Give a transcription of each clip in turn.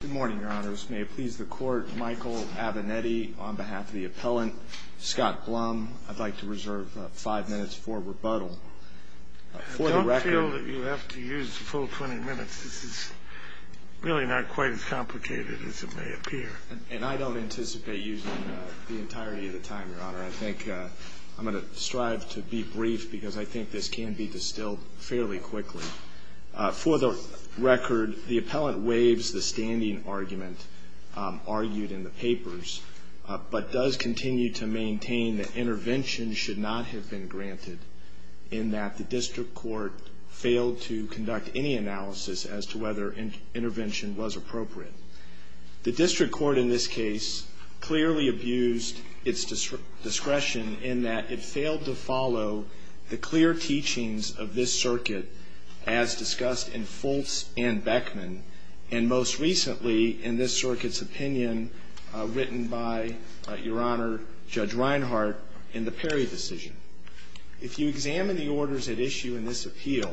Good morning, Your Honors. May it please the Court, Michael Abinetti on behalf of the appellant, Scott Blum, I'd like to reserve five minutes for rebuttal. I don't feel that you have to use the full 20 minutes. This is really not quite as complicated as it may appear. And I don't anticipate using the entirety of the time, Your Honor. I think I'm going to strive to be brief because I think this can be distilled fairly quickly. For the record, the appellant waives the standing argument argued in the papers but does continue to maintain that intervention should not have been granted in that the district court failed to conduct any analysis as to whether intervention was appropriate. The district court in this case clearly abused its discretion in that it failed to follow the clear teachings of this circuit as discussed in Fultz and Beckman and most recently in this circuit's opinion written by, Your Honor, Judge Reinhart in the Perry decision. If you examine the orders at issue in this appeal,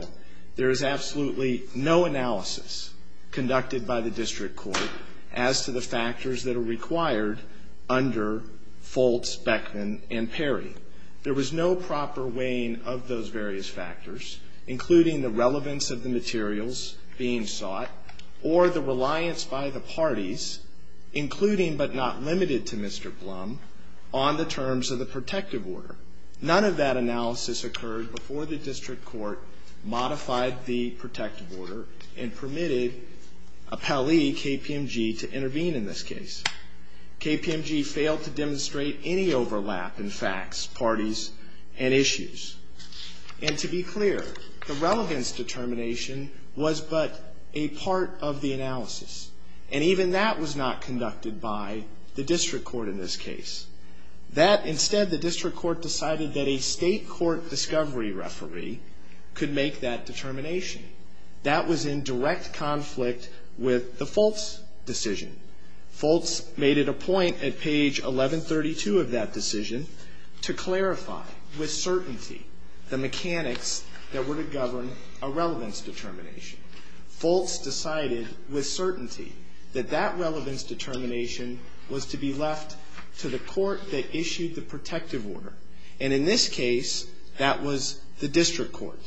there is absolutely no analysis conducted by the district court as to the factors that are required under Fultz, Beckman, and Perry. There was no proper weighing of those various factors, including the relevance of the materials being sought or the reliance by the parties, including but not limited to Mr. Blum, on the terms of the protective order. None of that analysis occurred before the district court modified the protective order and permitted appellee KPMG to intervene in this case. KPMG failed to demonstrate any overlap in facts, parties, and issues. And to be clear, the relevance determination was but a part of the analysis, and even that was not conducted by the district court in this case. That, instead, the district court decided that a state court discovery referee could make that determination. That was in direct conflict with the Fultz decision. Fultz made it a point at page 1132 of that decision to clarify with certainty the mechanics that were to govern a relevance determination. Fultz decided with certainty that that relevance determination was to be left to the court that issued the protective order. And in this case, that was the district court.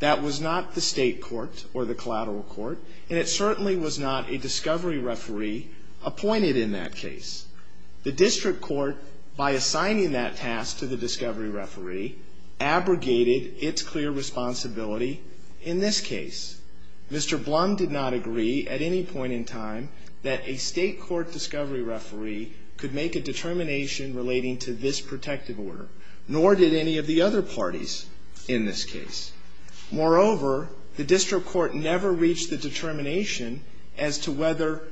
That was not the state court or the collateral court, and it certainly was not a discovery referee appointed in that case. The district court, by assigning that task to the discovery referee, abrogated its clear responsibility in this case. Mr. Blum did not agree at any point in time that a state court discovery referee could make a determination relating to this protective order, nor did any of the other parties in this case. Moreover, the district court never reached the determination as to whether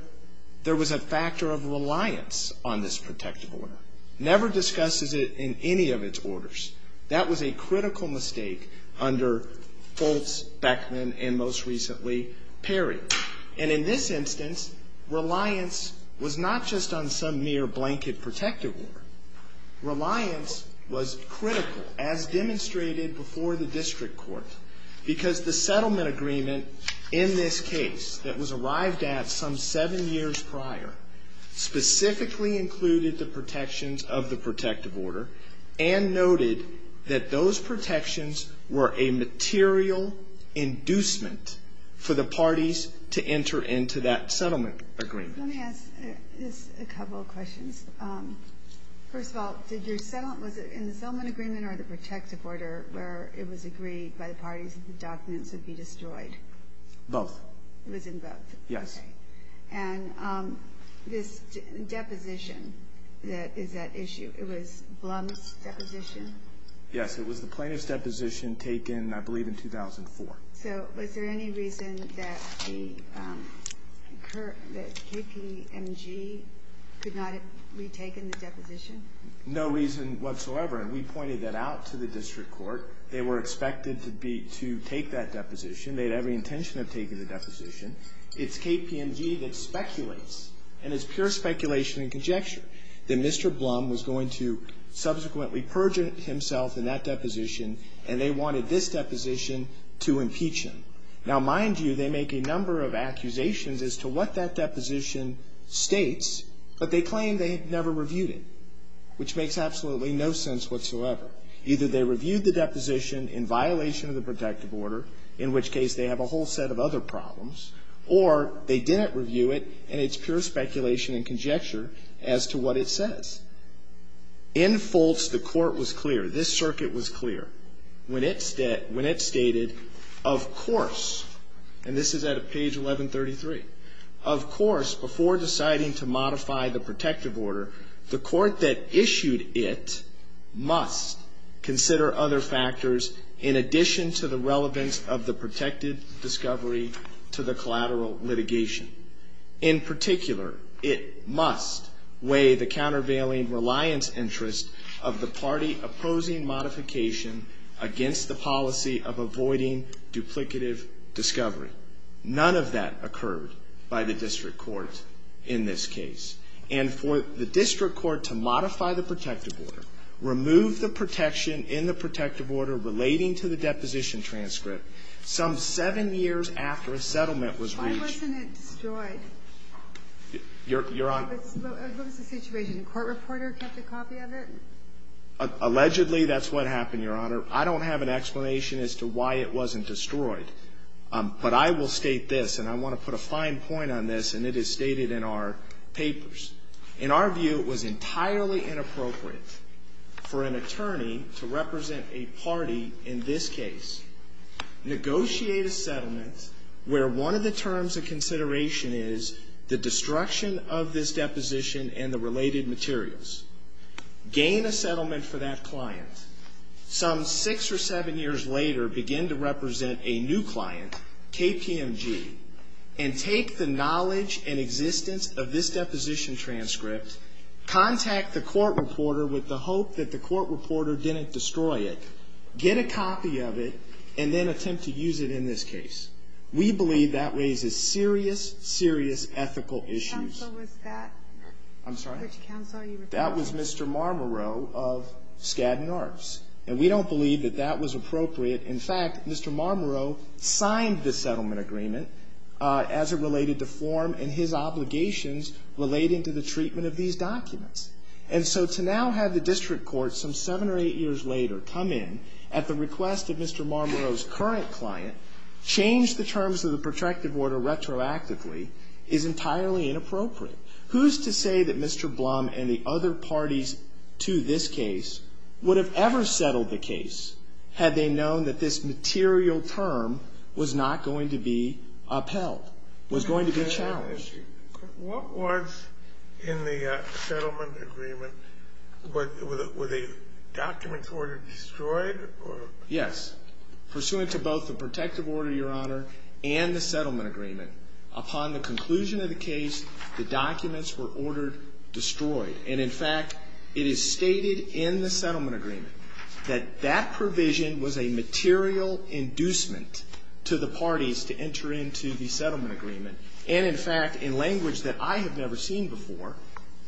there was a factor of reliance on this protective order, never discussed it in any of its orders. That was a critical mistake under Fultz, Beckman, and most recently, Perry. And in this instance, reliance was not just on some mere blanket protective order. Reliance was critical, as demonstrated before the district court, because the settlement agreement in this case that was arrived at some seven years prior specifically included the protections of the protective order and noted that those protections were a material inducement for the parties to enter into that settlement agreement. Let me ask just a couple of questions. First of all, did your settlement, was it in the settlement agreement or the protective order where it was agreed by the parties that the documents would be destroyed? Both. It was in both? Yes. And this deposition that is at issue, it was Blum's deposition? Yes, it was the plaintiff's deposition taken, I believe, in 2004. So was there any reason that KPMG could not have retaken the deposition? No reason whatsoever, and we pointed that out to the district court. They were expected to take that deposition. They had every intention of taking the deposition. It's KPMG that speculates, and it's pure speculation and conjecture, that Mr. Blum was going to subsequently purge himself in that deposition, and they wanted this deposition to impeach him. Now, mind you, they make a number of accusations as to what that deposition states, but they claim they never reviewed it, which makes absolutely no sense whatsoever. Either they reviewed the deposition in violation of the protective order, in which case they have a whole set of other problems, or they didn't review it, and it's pure speculation and conjecture as to what it says. In false, the court was clear, this circuit was clear, when it stated, of course, and this is at page 1133, of course, before deciding to modify the protective order, the court that issued it must consider other factors in addition to the relevance of the protected discovery to the collateral litigation. In particular, it must weigh the countervailing reliance interest of the party opposing modification against the policy of avoiding duplicative discovery. None of that occurred by the district court in this case. And for the district court to modify the protective order, remove the protection in the protective order relating to the deposition transcript some seven years after a settlement was reached. Why wasn't it destroyed? Your Honor. What was the situation? A court reporter kept a copy of it? Allegedly, that's what happened, Your Honor. I don't have an explanation as to why it wasn't destroyed. But I will state this, and I want to put a fine point on this, and it is stated in our papers. In our view, it was entirely inappropriate for an attorney to represent a party in this case, negotiate a settlement where one of the terms of consideration is the destruction of this deposition and the related materials, gain a settlement for that client. Some six or seven years later, begin to represent a new client, KPMG, and take the knowledge and existence of this deposition transcript, contact the court reporter with the hope that the court reporter didn't destroy it, get a copy of it, and then attempt to use it in this case. We believe that raises serious, serious ethical issues. Which counsel was that? I'm sorry? Which counsel are you referring to? That was Mr. Marmoreau of Skadden Arts. And we don't believe that that was appropriate. In fact, Mr. Marmoreau signed the settlement agreement as it related to form and his obligations relating to the treatment of these documents. And so to now have the district court, some seven or eight years later, come in at the request of Mr. Marmoreau's current client, change the terms of the protracted order retroactively is entirely inappropriate. Who's to say that Mr. Blum and the other parties to this case would have ever settled the case had they known that this material term was not going to be upheld, was going to be challenged? What was in the settlement agreement? Were the documents ordered destroyed? Yes. Pursuant to both the protective order, Your Honor, and the settlement agreement, upon the conclusion of the case, the documents were ordered destroyed. And in fact, it is stated in the settlement agreement that that provision was a material inducement to the parties to enter into the settlement agreement. And in fact, in language that I have never seen before,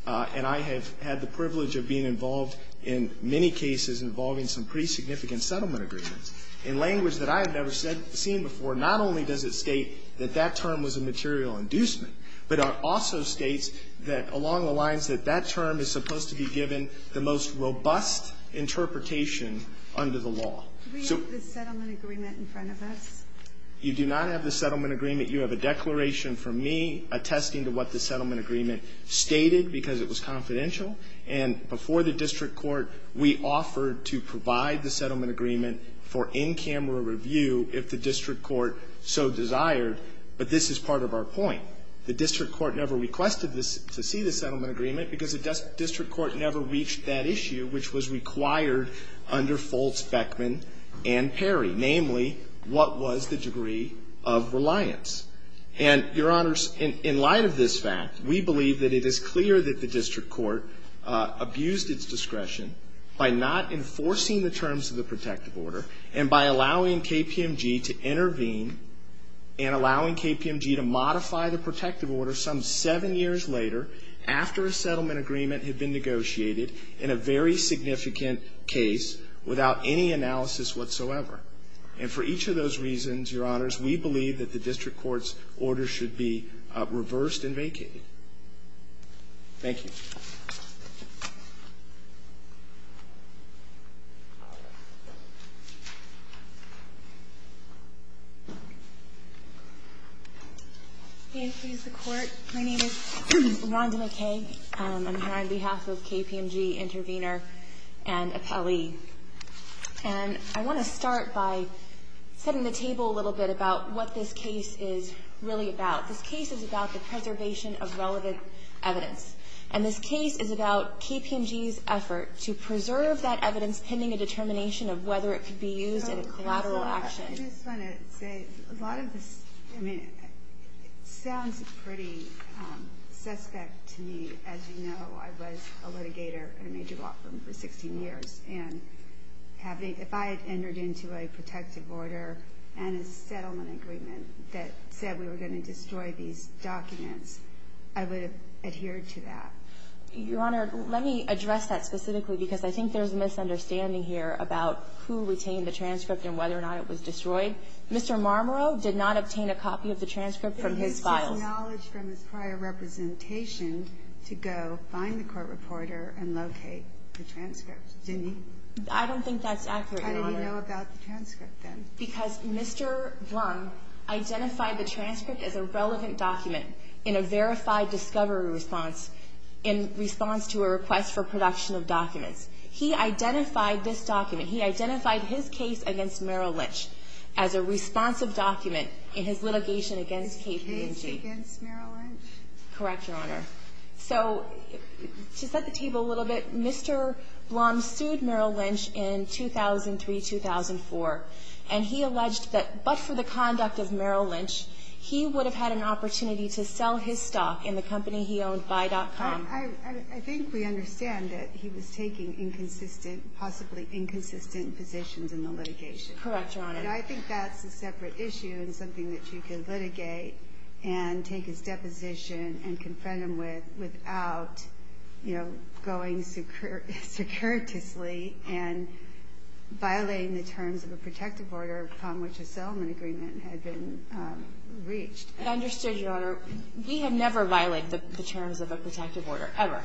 and I have had the privilege of being involved in many cases involving some pretty significant settlement agreements, in language that I have never seen before, not only does it state that that term was a material inducement, but it also states that along the lines that that term is supposed to be given the most robust interpretation under the law. Do we have the settlement agreement in front of us? You do not have the settlement agreement. You have a declaration from me attesting to what the settlement agreement stated because it was confidential. And before the district court, we offered to provide the settlement agreement for in-camera review if the district court so desired. But this is part of our point. The district court never requested to see the settlement agreement because the district court never reached that issue which was required under Foltz-Beckman and Perry, namely, what was the degree of reliance. And, Your Honors, in light of this fact, we believe that it is clear that the district court abused its discretion by not enforcing the terms of the protective order and by allowing KPMG to intervene and allowing KPMG to modify the protective order some seven years later after a settlement agreement had been negotiated in a very significant case without any analysis whatsoever. And for each of those reasons, Your Honors, we believe that the district court's order should be reversed and vacated. Thank you. Thank you. May it please the Court. My name is Rhonda McKay. I'm here on behalf of KPMG Intervenor and Appellee. And I want to start by setting the table a little bit about what this case is really about. This case is about the preservation of relevant evidence. And this case is about KPMG's effort to preserve that evidence pending a determination of whether it could be used in a collateral action. I just want to say a lot of this sounds pretty suspect to me. As you know, I was a litigator in a major law firm for 16 years. And if I had entered into a protective order and a settlement agreement that said we were going to destroy these documents, I would have adhered to that. Your Honor, let me address that specifically because I think there's a misunderstanding here about who retained the transcript and whether or not it was destroyed. Mr. Marmoreau did not obtain a copy of the transcript from his files. But he was acknowledged from his prior representation to go find the court reporter and locate the transcript, didn't he? I don't think that's accurate, Your Honor. How did he know about the transcript then? Because Mr. Blum identified the transcript as a relevant document in a verified discovery response in response to a request for production of documents. He identified this document. He identified his case against Merrill Lynch as a responsive document in his litigation against KPMG. His case against Merrill Lynch? Correct, Your Honor. So to set the table a little bit, Mr. Blum sued Merrill Lynch in 2003-2004. And he alleged that but for the conduct of Merrill Lynch, he would have had an opportunity to sell his stock in the company he owned, Buy.com. I think we understand that he was taking inconsistent, possibly inconsistent positions in the litigation. Correct, Your Honor. And I think that's a separate issue and something that you can litigate going securitously and violating the terms of a protective order from which a settlement agreement had been reached. I understood, Your Honor. We have never violated the terms of a protective order, ever.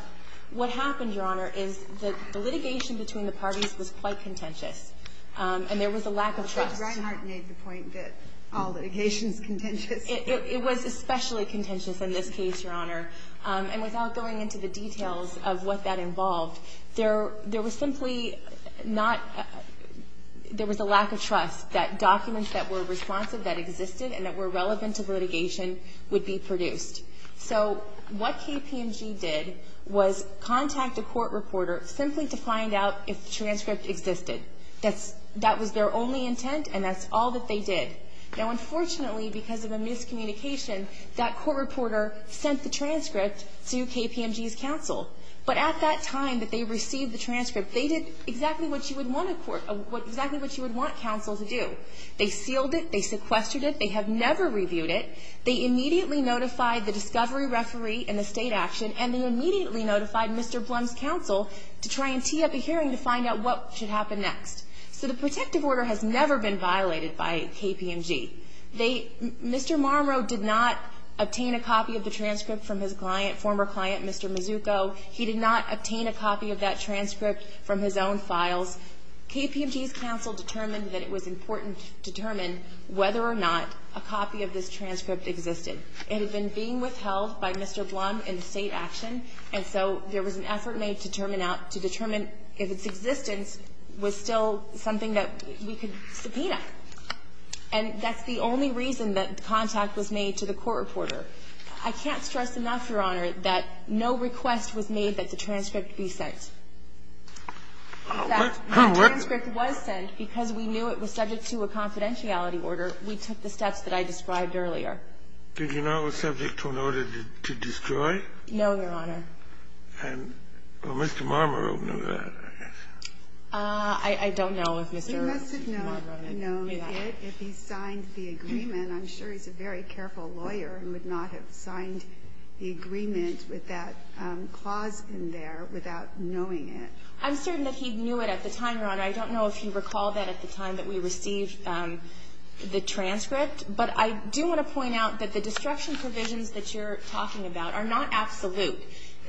What happened, Your Honor, is that the litigation between the parties was quite contentious and there was a lack of trust. I think Reinhart made the point that all litigation is contentious. It was especially contentious in this case, Your Honor. And without going into the details of what that involved, there was simply a lack of trust that documents that were responsive, that existed and that were relevant to litigation would be produced. So what KPMG did was contact a court reporter simply to find out if the transcript existed. That was their only intent and that's all that they did. Now, unfortunately, because of a miscommunication, that court reporter sent the transcript to KPMG's counsel. But at that time that they received the transcript, they did exactly what you would want counsel to do. They sealed it. They sequestered it. They have never reviewed it. They immediately notified the discovery referee and the state action, and they immediately notified Mr. Blum's counsel to try and tee up a hearing to find out what should happen next. So the protective order has never been violated by KPMG. Mr. Marmoreau did not obtain a copy of the transcript from his former client, Mr. Mazzucco. He did not obtain a copy of that transcript from his own files. KPMG's counsel determined that it was important to determine whether or not a copy of this transcript existed. It had been being withheld by Mr. Blum in the state action, and so there was an effort made to determine if its existence was still something that we could subpoena. And that's the only reason that contact was made to the court reporter. I can't stress enough, Your Honor, that no request was made that the transcript be sent. In fact, the transcript was sent because we knew it was subject to a confidentiality order. We took the steps that I described earlier. Did you know it was subject to an order to destroy? No, Your Honor. And Mr. Marmoreau knew that, I guess. I don't know if Mr. Marmoreau knew that. He must have known it if he signed the agreement. I'm sure he's a very careful lawyer and would not have signed the agreement with that clause in there without knowing it. I'm certain that he knew it at the time, Your Honor. I don't know if you recall that at the time that we received the transcript, but I do want to point out that the destruction provisions that you're talking about are not absolute.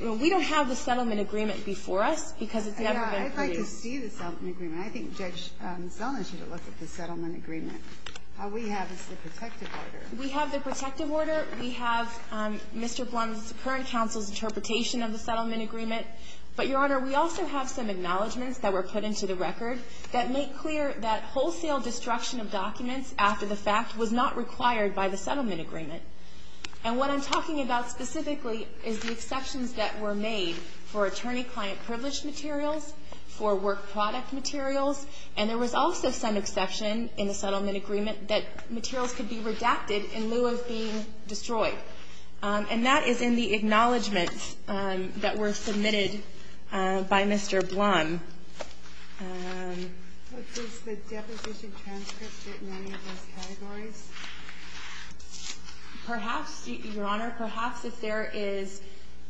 We don't have the settlement agreement before us because it's never been produced. I'd like to see the settlement agreement. I think Judge Zellner should look at the settlement agreement. All we have is the protective order. We have the protective order. We have Mr. Blunt's current counsel's interpretation of the settlement agreement. But, Your Honor, we also have some acknowledgments that were put into the record that make clear that wholesale destruction of documents after the fact was not required by the settlement agreement. And there was also some exception in the settlement agreement that materials could be redacted in lieu of being destroyed. And that is in the acknowledgments that were submitted by Mr. Blunt. Perhaps, Your Honor, perhaps if there is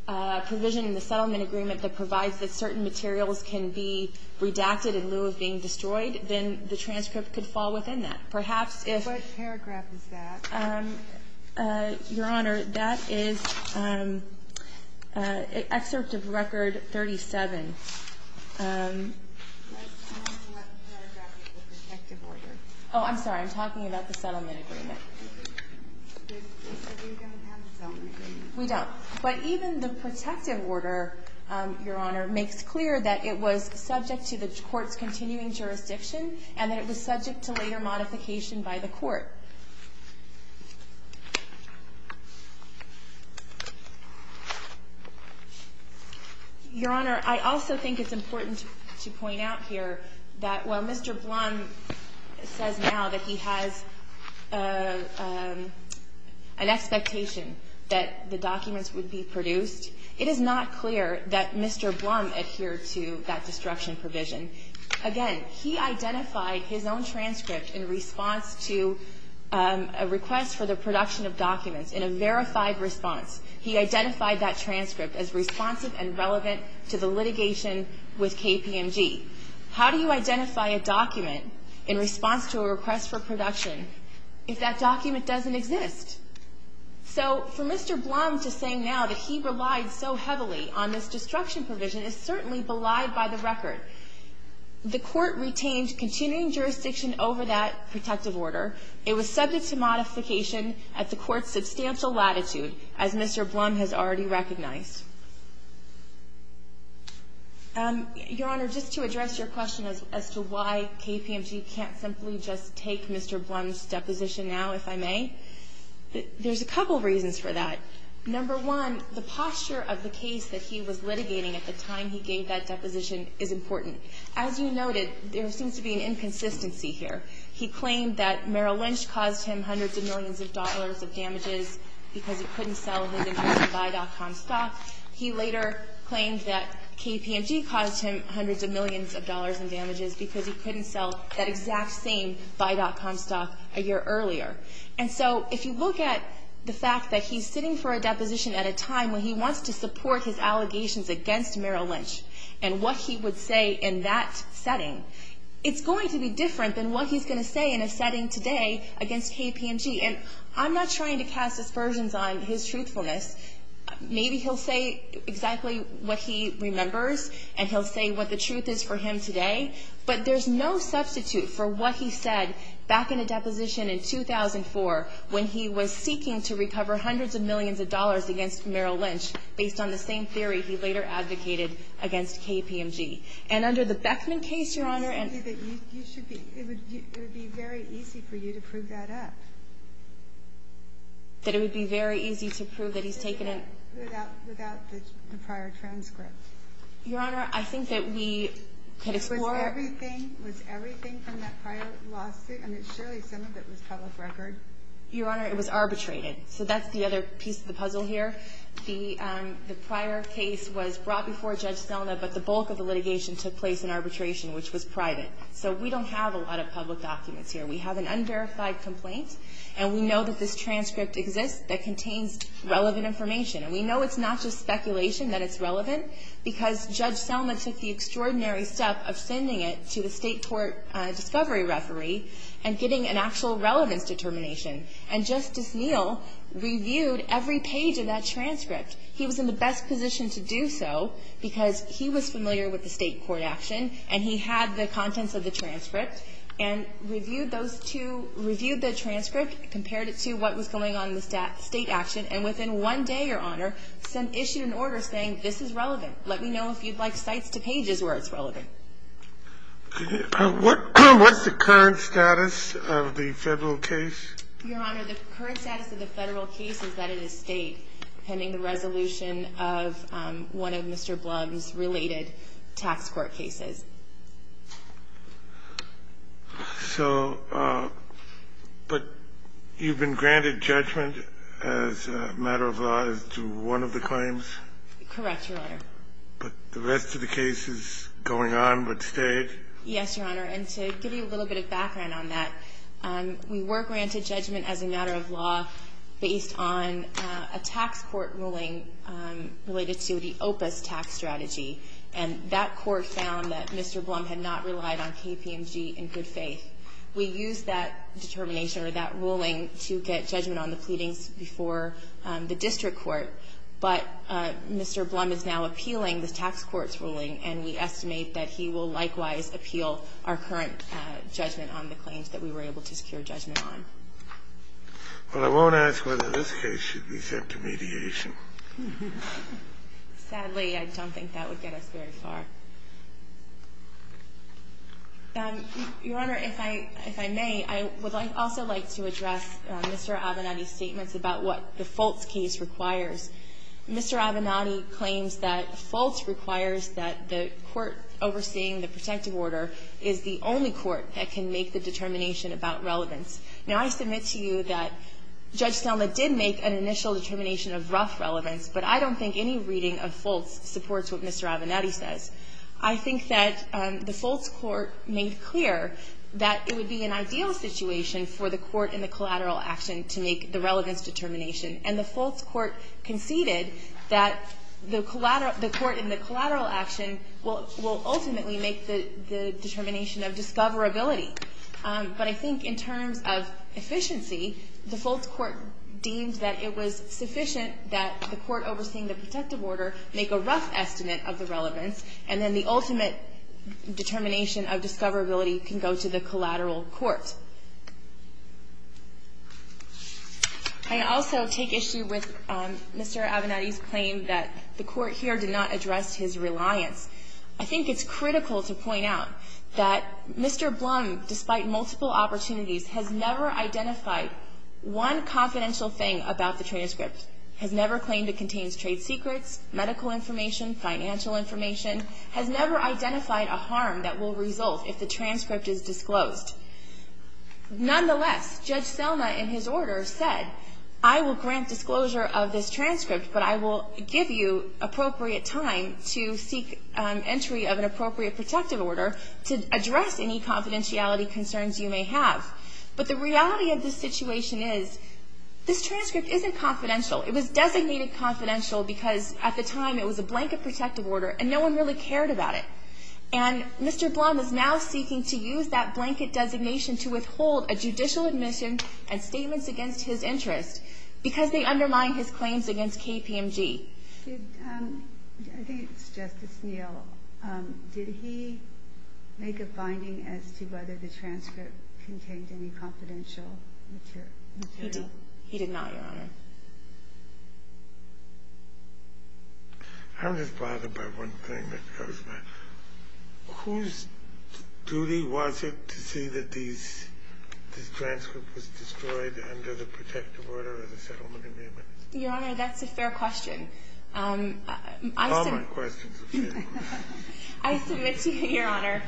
a provision in the settlement agreement that provides that certain materials can be redacted in lieu of being destroyed, then the transcript could fall within that. Perhaps if ---- What paragraph is that? Your Honor, that is Excerpt of Record 37. What paragraph is the protective order? Oh, I'm sorry. I'm talking about the settlement agreement. So we don't have the settlement agreement? We don't. But even the protective order, Your Honor, makes clear that it was subject to the court's continuing jurisdiction and that it was subject to later modification by the court. Your Honor, I also think it's important to point out here that while Mr. Blunt says now that he has an expectation that the documents would be produced, it is not clear that Mr. Blunt adhered to that destruction provision. Again, he identified his own transcript in response to a request for the production of documents in a verified response. He identified that transcript as responsive and relevant to the litigation with KPMG. How do you identify a document in response to a request for production if that document doesn't exist? So for Mr. Blunt to say now that he relied so heavily on this destruction provision is certainly belied by the record. The court retained continuing jurisdiction over that protective order. It was subject to modification at the court's substantial latitude, as Mr. Blunt has already recognized. Your Honor, just to address your question as to why KPMG can't simply just take Mr. Blunt's deposition now, if I may, there's a couple reasons for that. Number one, the posture of the case that he was litigating at the time he gave that deposition is important. As you noted, there seems to be an inconsistency here. He claimed that Merrill Lynch caused him hundreds of millions of dollars of damages because he couldn't sell his entire Buy.com stock. He later claimed that KPMG caused him hundreds of millions of dollars in damages because he couldn't sell that exact same Buy.com stock a year earlier. And so if you look at the fact that he's sitting for a deposition at a time when he wants to support his allegations against Merrill Lynch and what he would say in that setting, it's going to be different than what he's going to say in a setting today against KPMG. And I'm not trying to cast aspersions on his truthfulness. Maybe he'll say exactly what he remembers, and he'll say what the truth is for him today. But there's no substitute for what he said back in a deposition in 2004 when he was seeking to recover hundreds of millions of dollars against Merrill Lynch based on the same theory he later advocated against KPMG. And under the Beckman case, Your Honor, and you should be – for you to prove that up. That it would be very easy to prove that he's taken a – Without the prior transcript. Your Honor, I think that we could explore – Was everything from that prior lawsuit – I mean, surely some of it was public record. Your Honor, it was arbitrated. So that's the other piece of the puzzle here. The prior case was brought before Judge Selna, but the bulk of the litigation took place in arbitration, which was private. So we don't have a lot of public documents here. We have an unverified complaint, and we know that this transcript exists that contains relevant information. And we know it's not just speculation that it's relevant, because Judge Selna took the extraordinary step of sending it to a state court discovery referee and getting an actual relevance determination. And Justice Neal reviewed every page of that transcript. He was in the best position to do so because he was familiar with the state court action, and he had the contents of the transcript, and reviewed those two – reviewed the transcript, compared it to what was going on in the state action, and within one day, Your Honor, issued an order saying this is relevant. Let me know if you'd like sites to pages where it's relevant. What's the current status of the Federal case? Your Honor, the current status of the Federal case is that it is state, pending the resolution of one of Mr. Blum's related tax court cases. So – but you've been granted judgment as a matter of law as to one of the claims? Correct, Your Honor. But the rest of the cases going on but state? Yes, Your Honor. And to give you a little bit of background on that, we were granted judgment as a matter of law based on a tax court ruling related to the OPA's tax strategy, and that court found that Mr. Blum had not relied on KPMG in good faith. We used that determination or that ruling to get judgment on the pleadings before the district court, but Mr. Blum is now appealing the tax court's ruling, and we estimate that he will likewise appeal our current judgment on the claims that we were able to secure judgment on. Well, I won't ask whether this case should be sent to mediation. Sadly, I don't think that would get us very far. Your Honor, if I may, I would also like to address Mr. Avenatti's statements about what the Foltz case requires. Mr. Avenatti claims that Foltz requires that the court overseeing the protective order is the only court that can make the determination about relevance. Now, I submit to you that Judge Selma did make an initial determination of rough relevance, but I don't think any reading of Foltz supports what Mr. Avenatti says. I think that the Foltz court made clear that it would be an ideal situation for the court in the collateral action to make the relevance determination, and the Foltz court conceded that the court in the collateral action will ultimately make the determination of discoverability. But I think in terms of efficiency, the Foltz court deemed that it was sufficient that the court overseeing the protective order make a rough estimate of the relevance, and then the ultimate determination of discoverability can go to the collateral court. I also take issue with Mr. Avenatti's claim that the court here did not address his reliance. I think it's critical to point out that Mr. Blum, despite multiple opportunities, has never identified one confidential thing about the transcript, has never claimed it contains trade secrets, medical information, financial information, has never identified a harm that will result if the transcript is disclosed. Nonetheless, Judge Selma in his order said, I will grant disclosure of this transcript, but I will give you appropriate time to seek entry of an appropriate protective order to address any confidentiality concerns you may have. But the reality of this situation is this transcript isn't confidential. It was designated confidential because at the time it was a blanket protective order, and no one really cared about it. And Mr. Blum is now seeking to use that blanket designation to withhold a judicial admission and statements against his interest because they undermine his claims against KPMG. Ginsburg. I think it's Justice Neal. Did he make a finding as to whether the transcript contained any confidential material? He did not, Your Honor. I'm just bothered by one thing that goes by. Whose duty was it to see that this transcript was destroyed under the protective order of the settlement agreement? Your Honor, that's a fair question. All my questions are fair questions. I submit to you, Your Honor,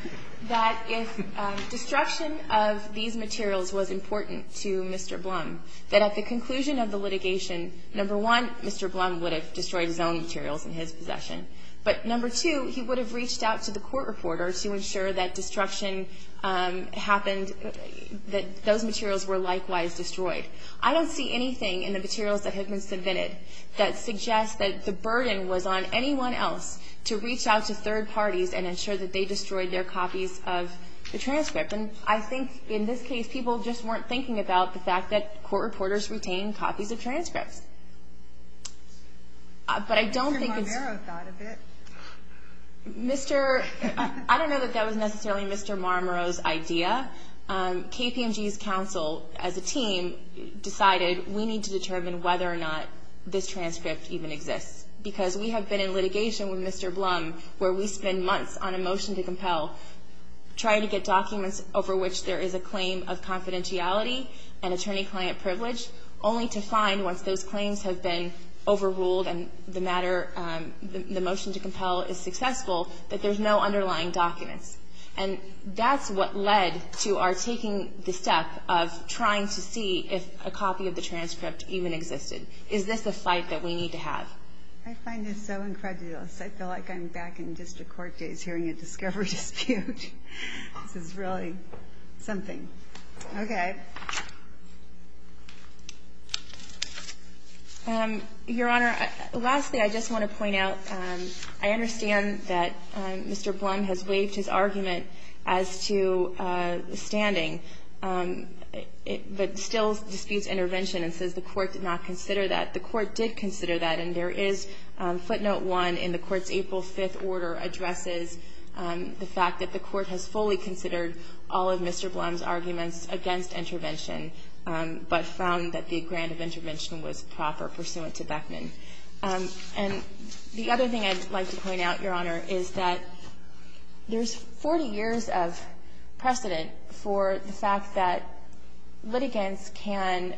that if destruction of these materials was important to Mr. Blum, that at the conclusion of the litigation, number one, Mr. Blum would have destroyed his own materials in his possession. But number two, he would have reached out to the court reporter to ensure that destruction happened, that those materials were likewise destroyed. I don't see anything in the materials that have been submitted that suggests that the burden was on anyone else to reach out to third parties and ensure that they destroyed their copies of the transcript. And I think in this case, people just weren't thinking about the fact that court reporters retain copies of transcripts. But I don't think it's... Mr. Marmero thought of it. Mr. — I don't know that that was necessarily Mr. Marmero's idea. KPMG's counsel, as a team, decided we need to determine whether or not this transcript even exists. Because we have been in litigation with Mr. Blum where we spend months on a motion to compel, trying to get documents over which there is a claim of confidentiality and attorney-client privilege, only to find once those claims have been overruled and the matter, the motion to compel is successful, that there's no underlying documents. And that's what led to our taking the step of trying to see if a copy of the transcript even existed. Is this a fight that we need to have? I find this so incredulous. I feel like I'm back in district court days hearing a discovery dispute. This is really something. Okay. Your Honor, lastly, I just want to point out, I understand that Mr. Blum has waived his argument as to the standing, but still disputes intervention and says the court did not consider that. The court did consider that. And there is footnote one in the court's April 5th order addresses the fact that the court has fully considered all of Mr. Blum's arguments against intervention, but found that the grant of intervention was proper pursuant to Beckman. And the other thing I'd like to point out, Your Honor, is that there's 40 years of precedent for the fact that litigants can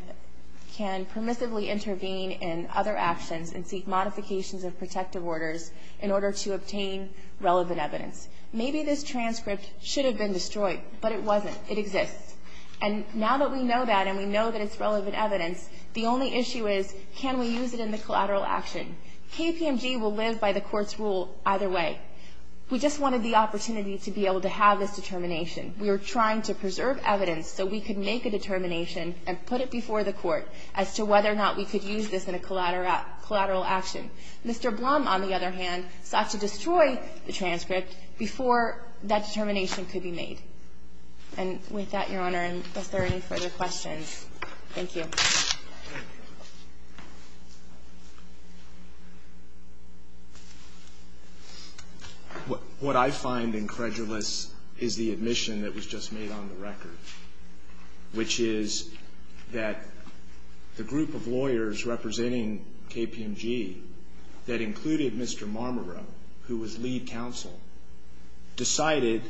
permissively intervene in other actions and seek modifications of protective orders in order to obtain relevant evidence. Maybe this transcript should have been destroyed, but it wasn't. It exists. And now that we know that and we know that it's relevant evidence, the only issue is, can we use it in the collateral action? KPMG will live by the court's rule either way. We just wanted the opportunity to be able to have this determination. We were trying to preserve evidence so we could make a determination and put it Mr. Blum, on the other hand, sought to destroy the transcript before that determination could be made. And with that, Your Honor, unless there are any further questions. Thank you. What I find incredulous is the admission that was just made on the record, which is that the group of lawyers representing KPMG that included Mr. Marmaro, who was lead counsel, decided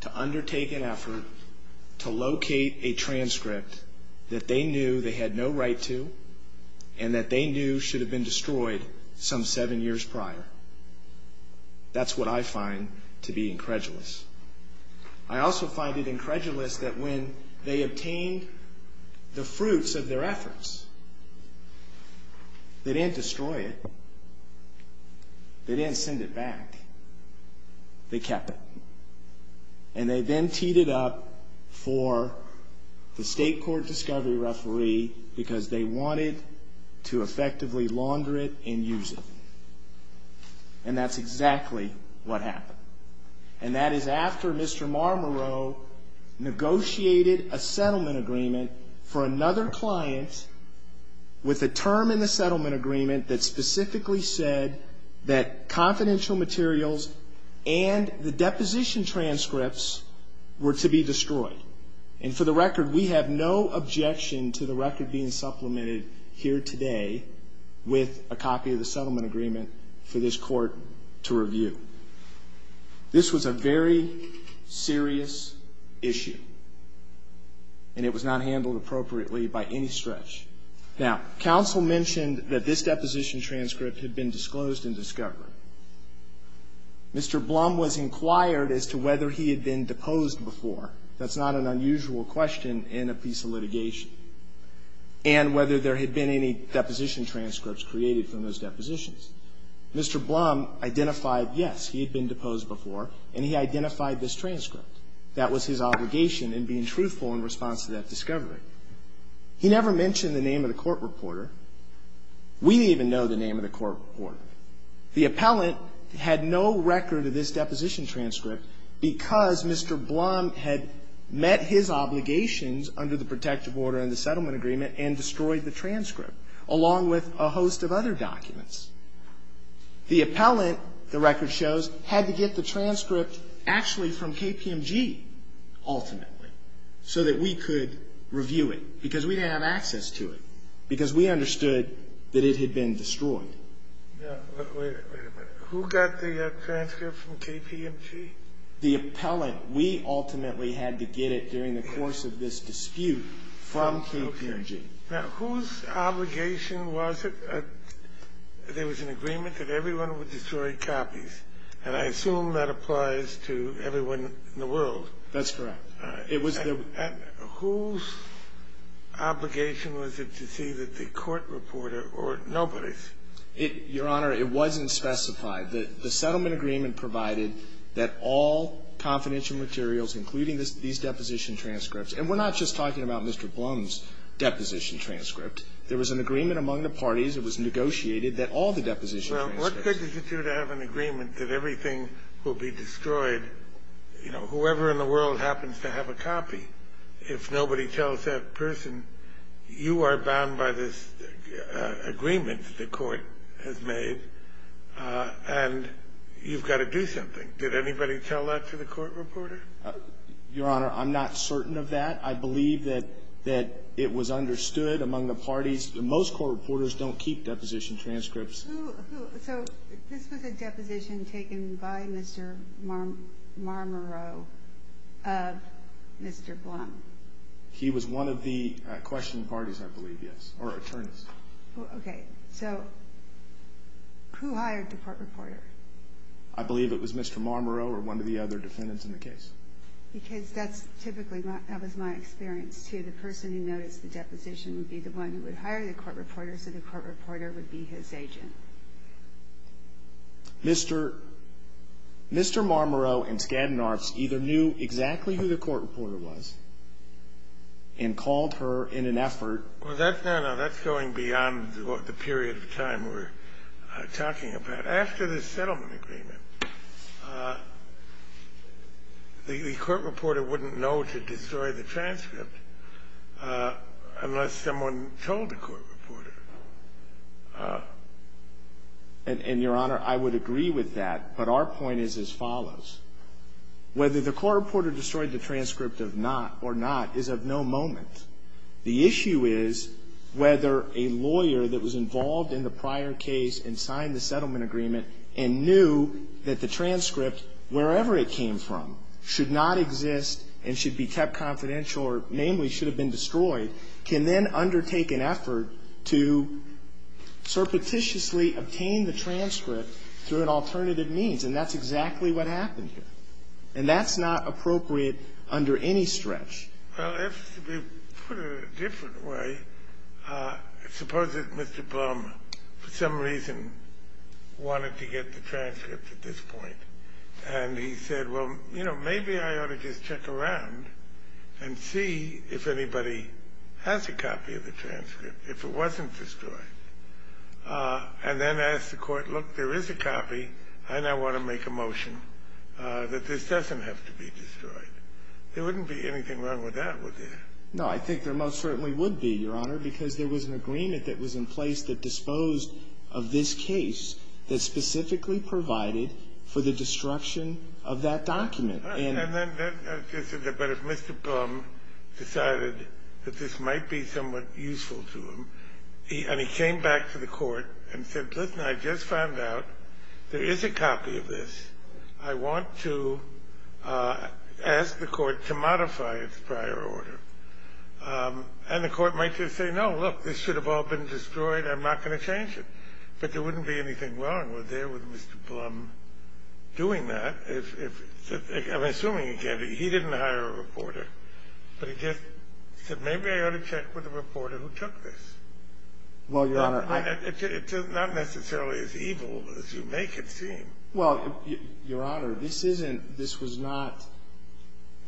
to undertake an effort to locate a transcript that they knew they had no right to and that they knew should have been destroyed some seven years prior. That's what I find to be incredulous. I also find it incredulous that when they obtained the fruits of their efforts, they didn't destroy it. They didn't send it back. They kept it. And they then teed it up for the state court discovery referee because they wanted to effectively launder it and use it. And that's exactly what happened. And that is after Mr. Marmaro negotiated a settlement agreement for another client with a term in the settlement agreement that specifically said that confidential materials and the deposition transcripts were to be destroyed. And for the record, we have no objection to the record being supplemented here today with a copy of the settlement agreement for this court to review. This was a very serious issue, and it was not handled appropriately by any stretch. Now, counsel mentioned that this deposition transcript had been disclosed in discovery. Mr. Blum was inquired as to whether he had been deposed before. That's not an unusual question in a piece of litigation. And whether there had been any deposition transcripts created from those depositions. Mr. Blum identified yes, he had been deposed before, and he identified this transcript. That was his obligation in being truthful in response to that discovery. He never mentioned the name of the court reporter. We didn't even know the name of the court reporter. The appellant had no record of this deposition transcript because Mr. Blum had met his obligations under the protective order in the settlement agreement and destroyed the transcript, along with a host of other documents. The appellant, the record shows, had to get the transcript actually from KPMG ultimately so that we could review it, because we didn't have access to it, because we understood that it had been destroyed. Wait a minute. Who got the transcript from KPMG? The appellant. We ultimately had to get it during the course of this dispute from KPMG. Now, whose obligation was it that there was an agreement that everyone would destroy copies? And I assume that applies to everyone in the world. That's correct. It was the ---- And whose obligation was it to see that the court reporter or nobody's? Your Honor, it wasn't specified. The settlement agreement provided that all confidential materials, including these deposition transcripts. And we're not just talking about Mr. Blum's deposition transcript. There was an agreement among the parties. It was negotiated that all the deposition transcripts ---- Well, what good does it do to have an agreement that everything will be destroyed? You know, whoever in the world happens to have a copy, if nobody tells that person, you are bound by this agreement the court has made, and you've got to do something. Did anybody tell that to the court reporter? Your Honor, I'm not certain of that. I believe that it was understood among the parties. Most court reporters don't keep deposition transcripts. So this was a deposition taken by Mr. Marmoreau of Mr. Blum? He was one of the questioning parties, I believe, yes, or attorneys. Okay. So who hired the court reporter? I believe it was Mr. Marmoreau or one of the other defendants in the case. Because that's typically not ---- that was my experience, too. The person who noticed the deposition would be the one who would hire the court reporter, so the court reporter would be his agent. Mr. Marmoreau and Skadden Arps either knew exactly who the court reporter was and called her in an effort ---- No, no, that's going beyond the period of time we're talking about. After the settlement agreement, the court reporter wouldn't know to destroy the transcript unless someone told the court reporter. And, Your Honor, I would agree with that, but our point is as follows. Whether the court reporter destroyed the transcript or not is of no moment. The issue is whether a lawyer that was involved in the prior case and signed the settlement agreement and knew that the transcript, wherever it came from, should not exist and should be kept confidential or namely should have been destroyed, can then undertake an effort to surreptitiously obtain the transcript through an alternative means. And that's exactly what happened here. And that's not appropriate under any stretch. Well, if we put it a different way, suppose that Mr. Blum, for some reason, wanted to get the transcript at this point, and he said, well, you know, maybe I ought to just check around and see if anybody has a copy of the transcript, if it wasn't destroyed, and then ask the court, look, there is a copy, and I want to make a motion that this doesn't have to be destroyed. There wouldn't be anything wrong with that, would there? No. I think there most certainly would be, Your Honor, because there was an agreement that was in place that disposed of this case that specifically provided for the destruction of that document. But if Mr. Blum decided that this might be somewhat useful to him, and he came back to the court and said, listen, I just found out there is a copy of this. I want to ask the court to modify its prior order. And the court might just say, no, look, this should have all been destroyed. I'm not going to change it. But there wouldn't be anything wrong, would there, with Mr. Blum doing that? I'm assuming he didn't hire a reporter. But he just said, maybe I ought to check with the reporter who took this. Well, Your Honor, I don't think so. It's not necessarily as evil as you make it seem. Well, Your Honor, this isn't – this was not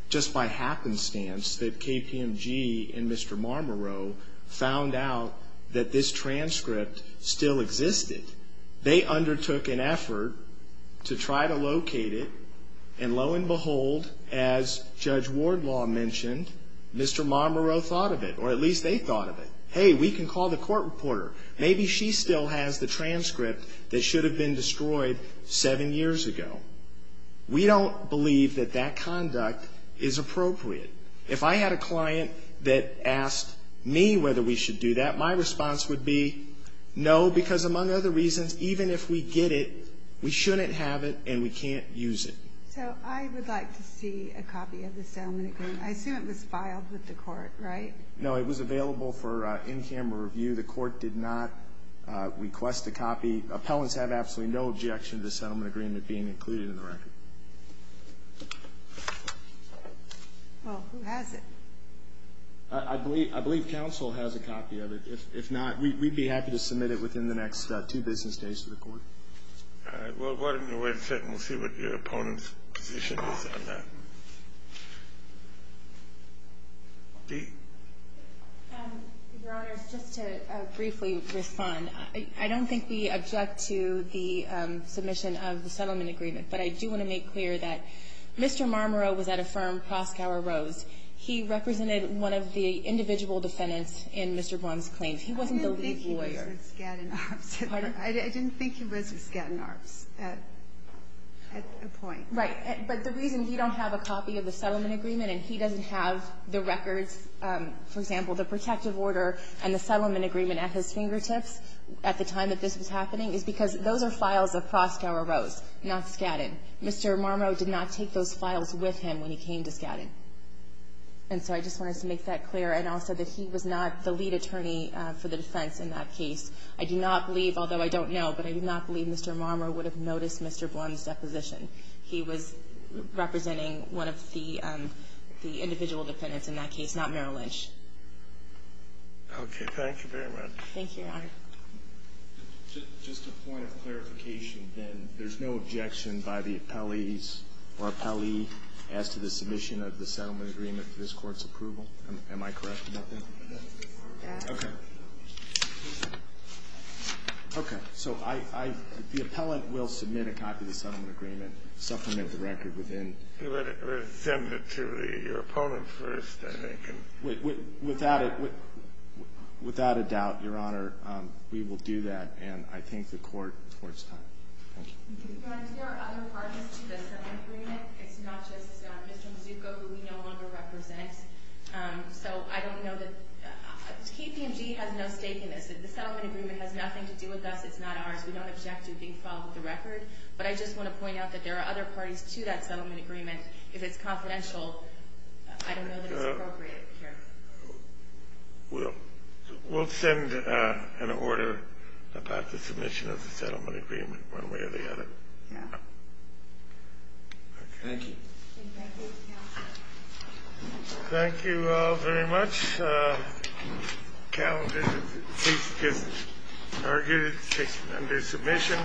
just by happenstance that KPMG and Mr. Marmoreau found out that this transcript still existed. They undertook an effort to try to locate it. And lo and behold, as Judge Wardlaw mentioned, Mr. Marmoreau thought of it, or at least they thought of it. Hey, we can call the court reporter. Maybe she still has the transcript that should have been destroyed seven years ago. We don't believe that that conduct is appropriate. If I had a client that asked me whether we should do that, my response would be no, because among other reasons, even if we get it, we shouldn't have it and we can't use it. So I would like to see a copy of the settlement agreement. I assume it was filed with the court, right? No, it was available for in-camera review. The court did not request a copy. Appellants have absolutely no objection to the settlement agreement being included in the record. Well, who has it? I believe counsel has a copy of it. If not, we'd be happy to submit it within the next two business days to the court. All right. Well, why don't you wait a second. We'll see what your opponent's position is on that. Dee? Your Honor, just to briefly respond, I don't think we object to the submission of the settlement agreement, but I do want to make clear that Mr. Marmoreau was at a firm, Proskauer Rose. He represented one of the individual defendants in Mr. Braun's claims. He wasn't the legal lawyer. I didn't think he was at Skadden Arps. Pardon? I didn't think he was at Skadden Arps at that point. Right. But the reason he don't have a copy of the settlement agreement and he doesn't have the records, for example, the protective order and the settlement agreement at his fingertips at the time that this was happening is because those are files of Proskauer Rose, not Skadden. Mr. Marmoreau did not take those files with him when he came to Skadden. And so I just wanted to make that clear, and also that he was not the lead attorney for the defense in that case. I do not believe, although I don't know, but I do not believe Mr. Marmoreau would have noticed Mr. Braun's deposition. He was representing one of the individual defendants in that case, not Merrill Lynch. Okay. Thank you very much. Thank you, Your Honor. Just a point of clarification, then. There's no objection by the appellees or appellee as to the submission of the settlement agreement to this Court's approval? Am I correct about that? Yes. Okay. Okay. So the appellant will submit a copy of the settlement agreement, supplement the record within... We'll send it to your opponent first, I think. Without a doubt, Your Honor, we will do that, and I thank the Court for its time. Thank you. Your Honor, there are other parties to the settlement agreement. It's not just Mr. Mazzucco, who we no longer represent. So I don't know that... KPMG has no stake in this. The settlement agreement has nothing to do with us. It's not ours. We don't object to being followed with the record, but I just want to point out that there are other parties to that settlement agreement. If it's confidential, I don't know that it's appropriate here. We'll send an order about the submission of the settlement agreement one way or the other. Yeah. Thank you. Thank you, Your Honor. Thank you all very much. The calendar, please, get it under submission.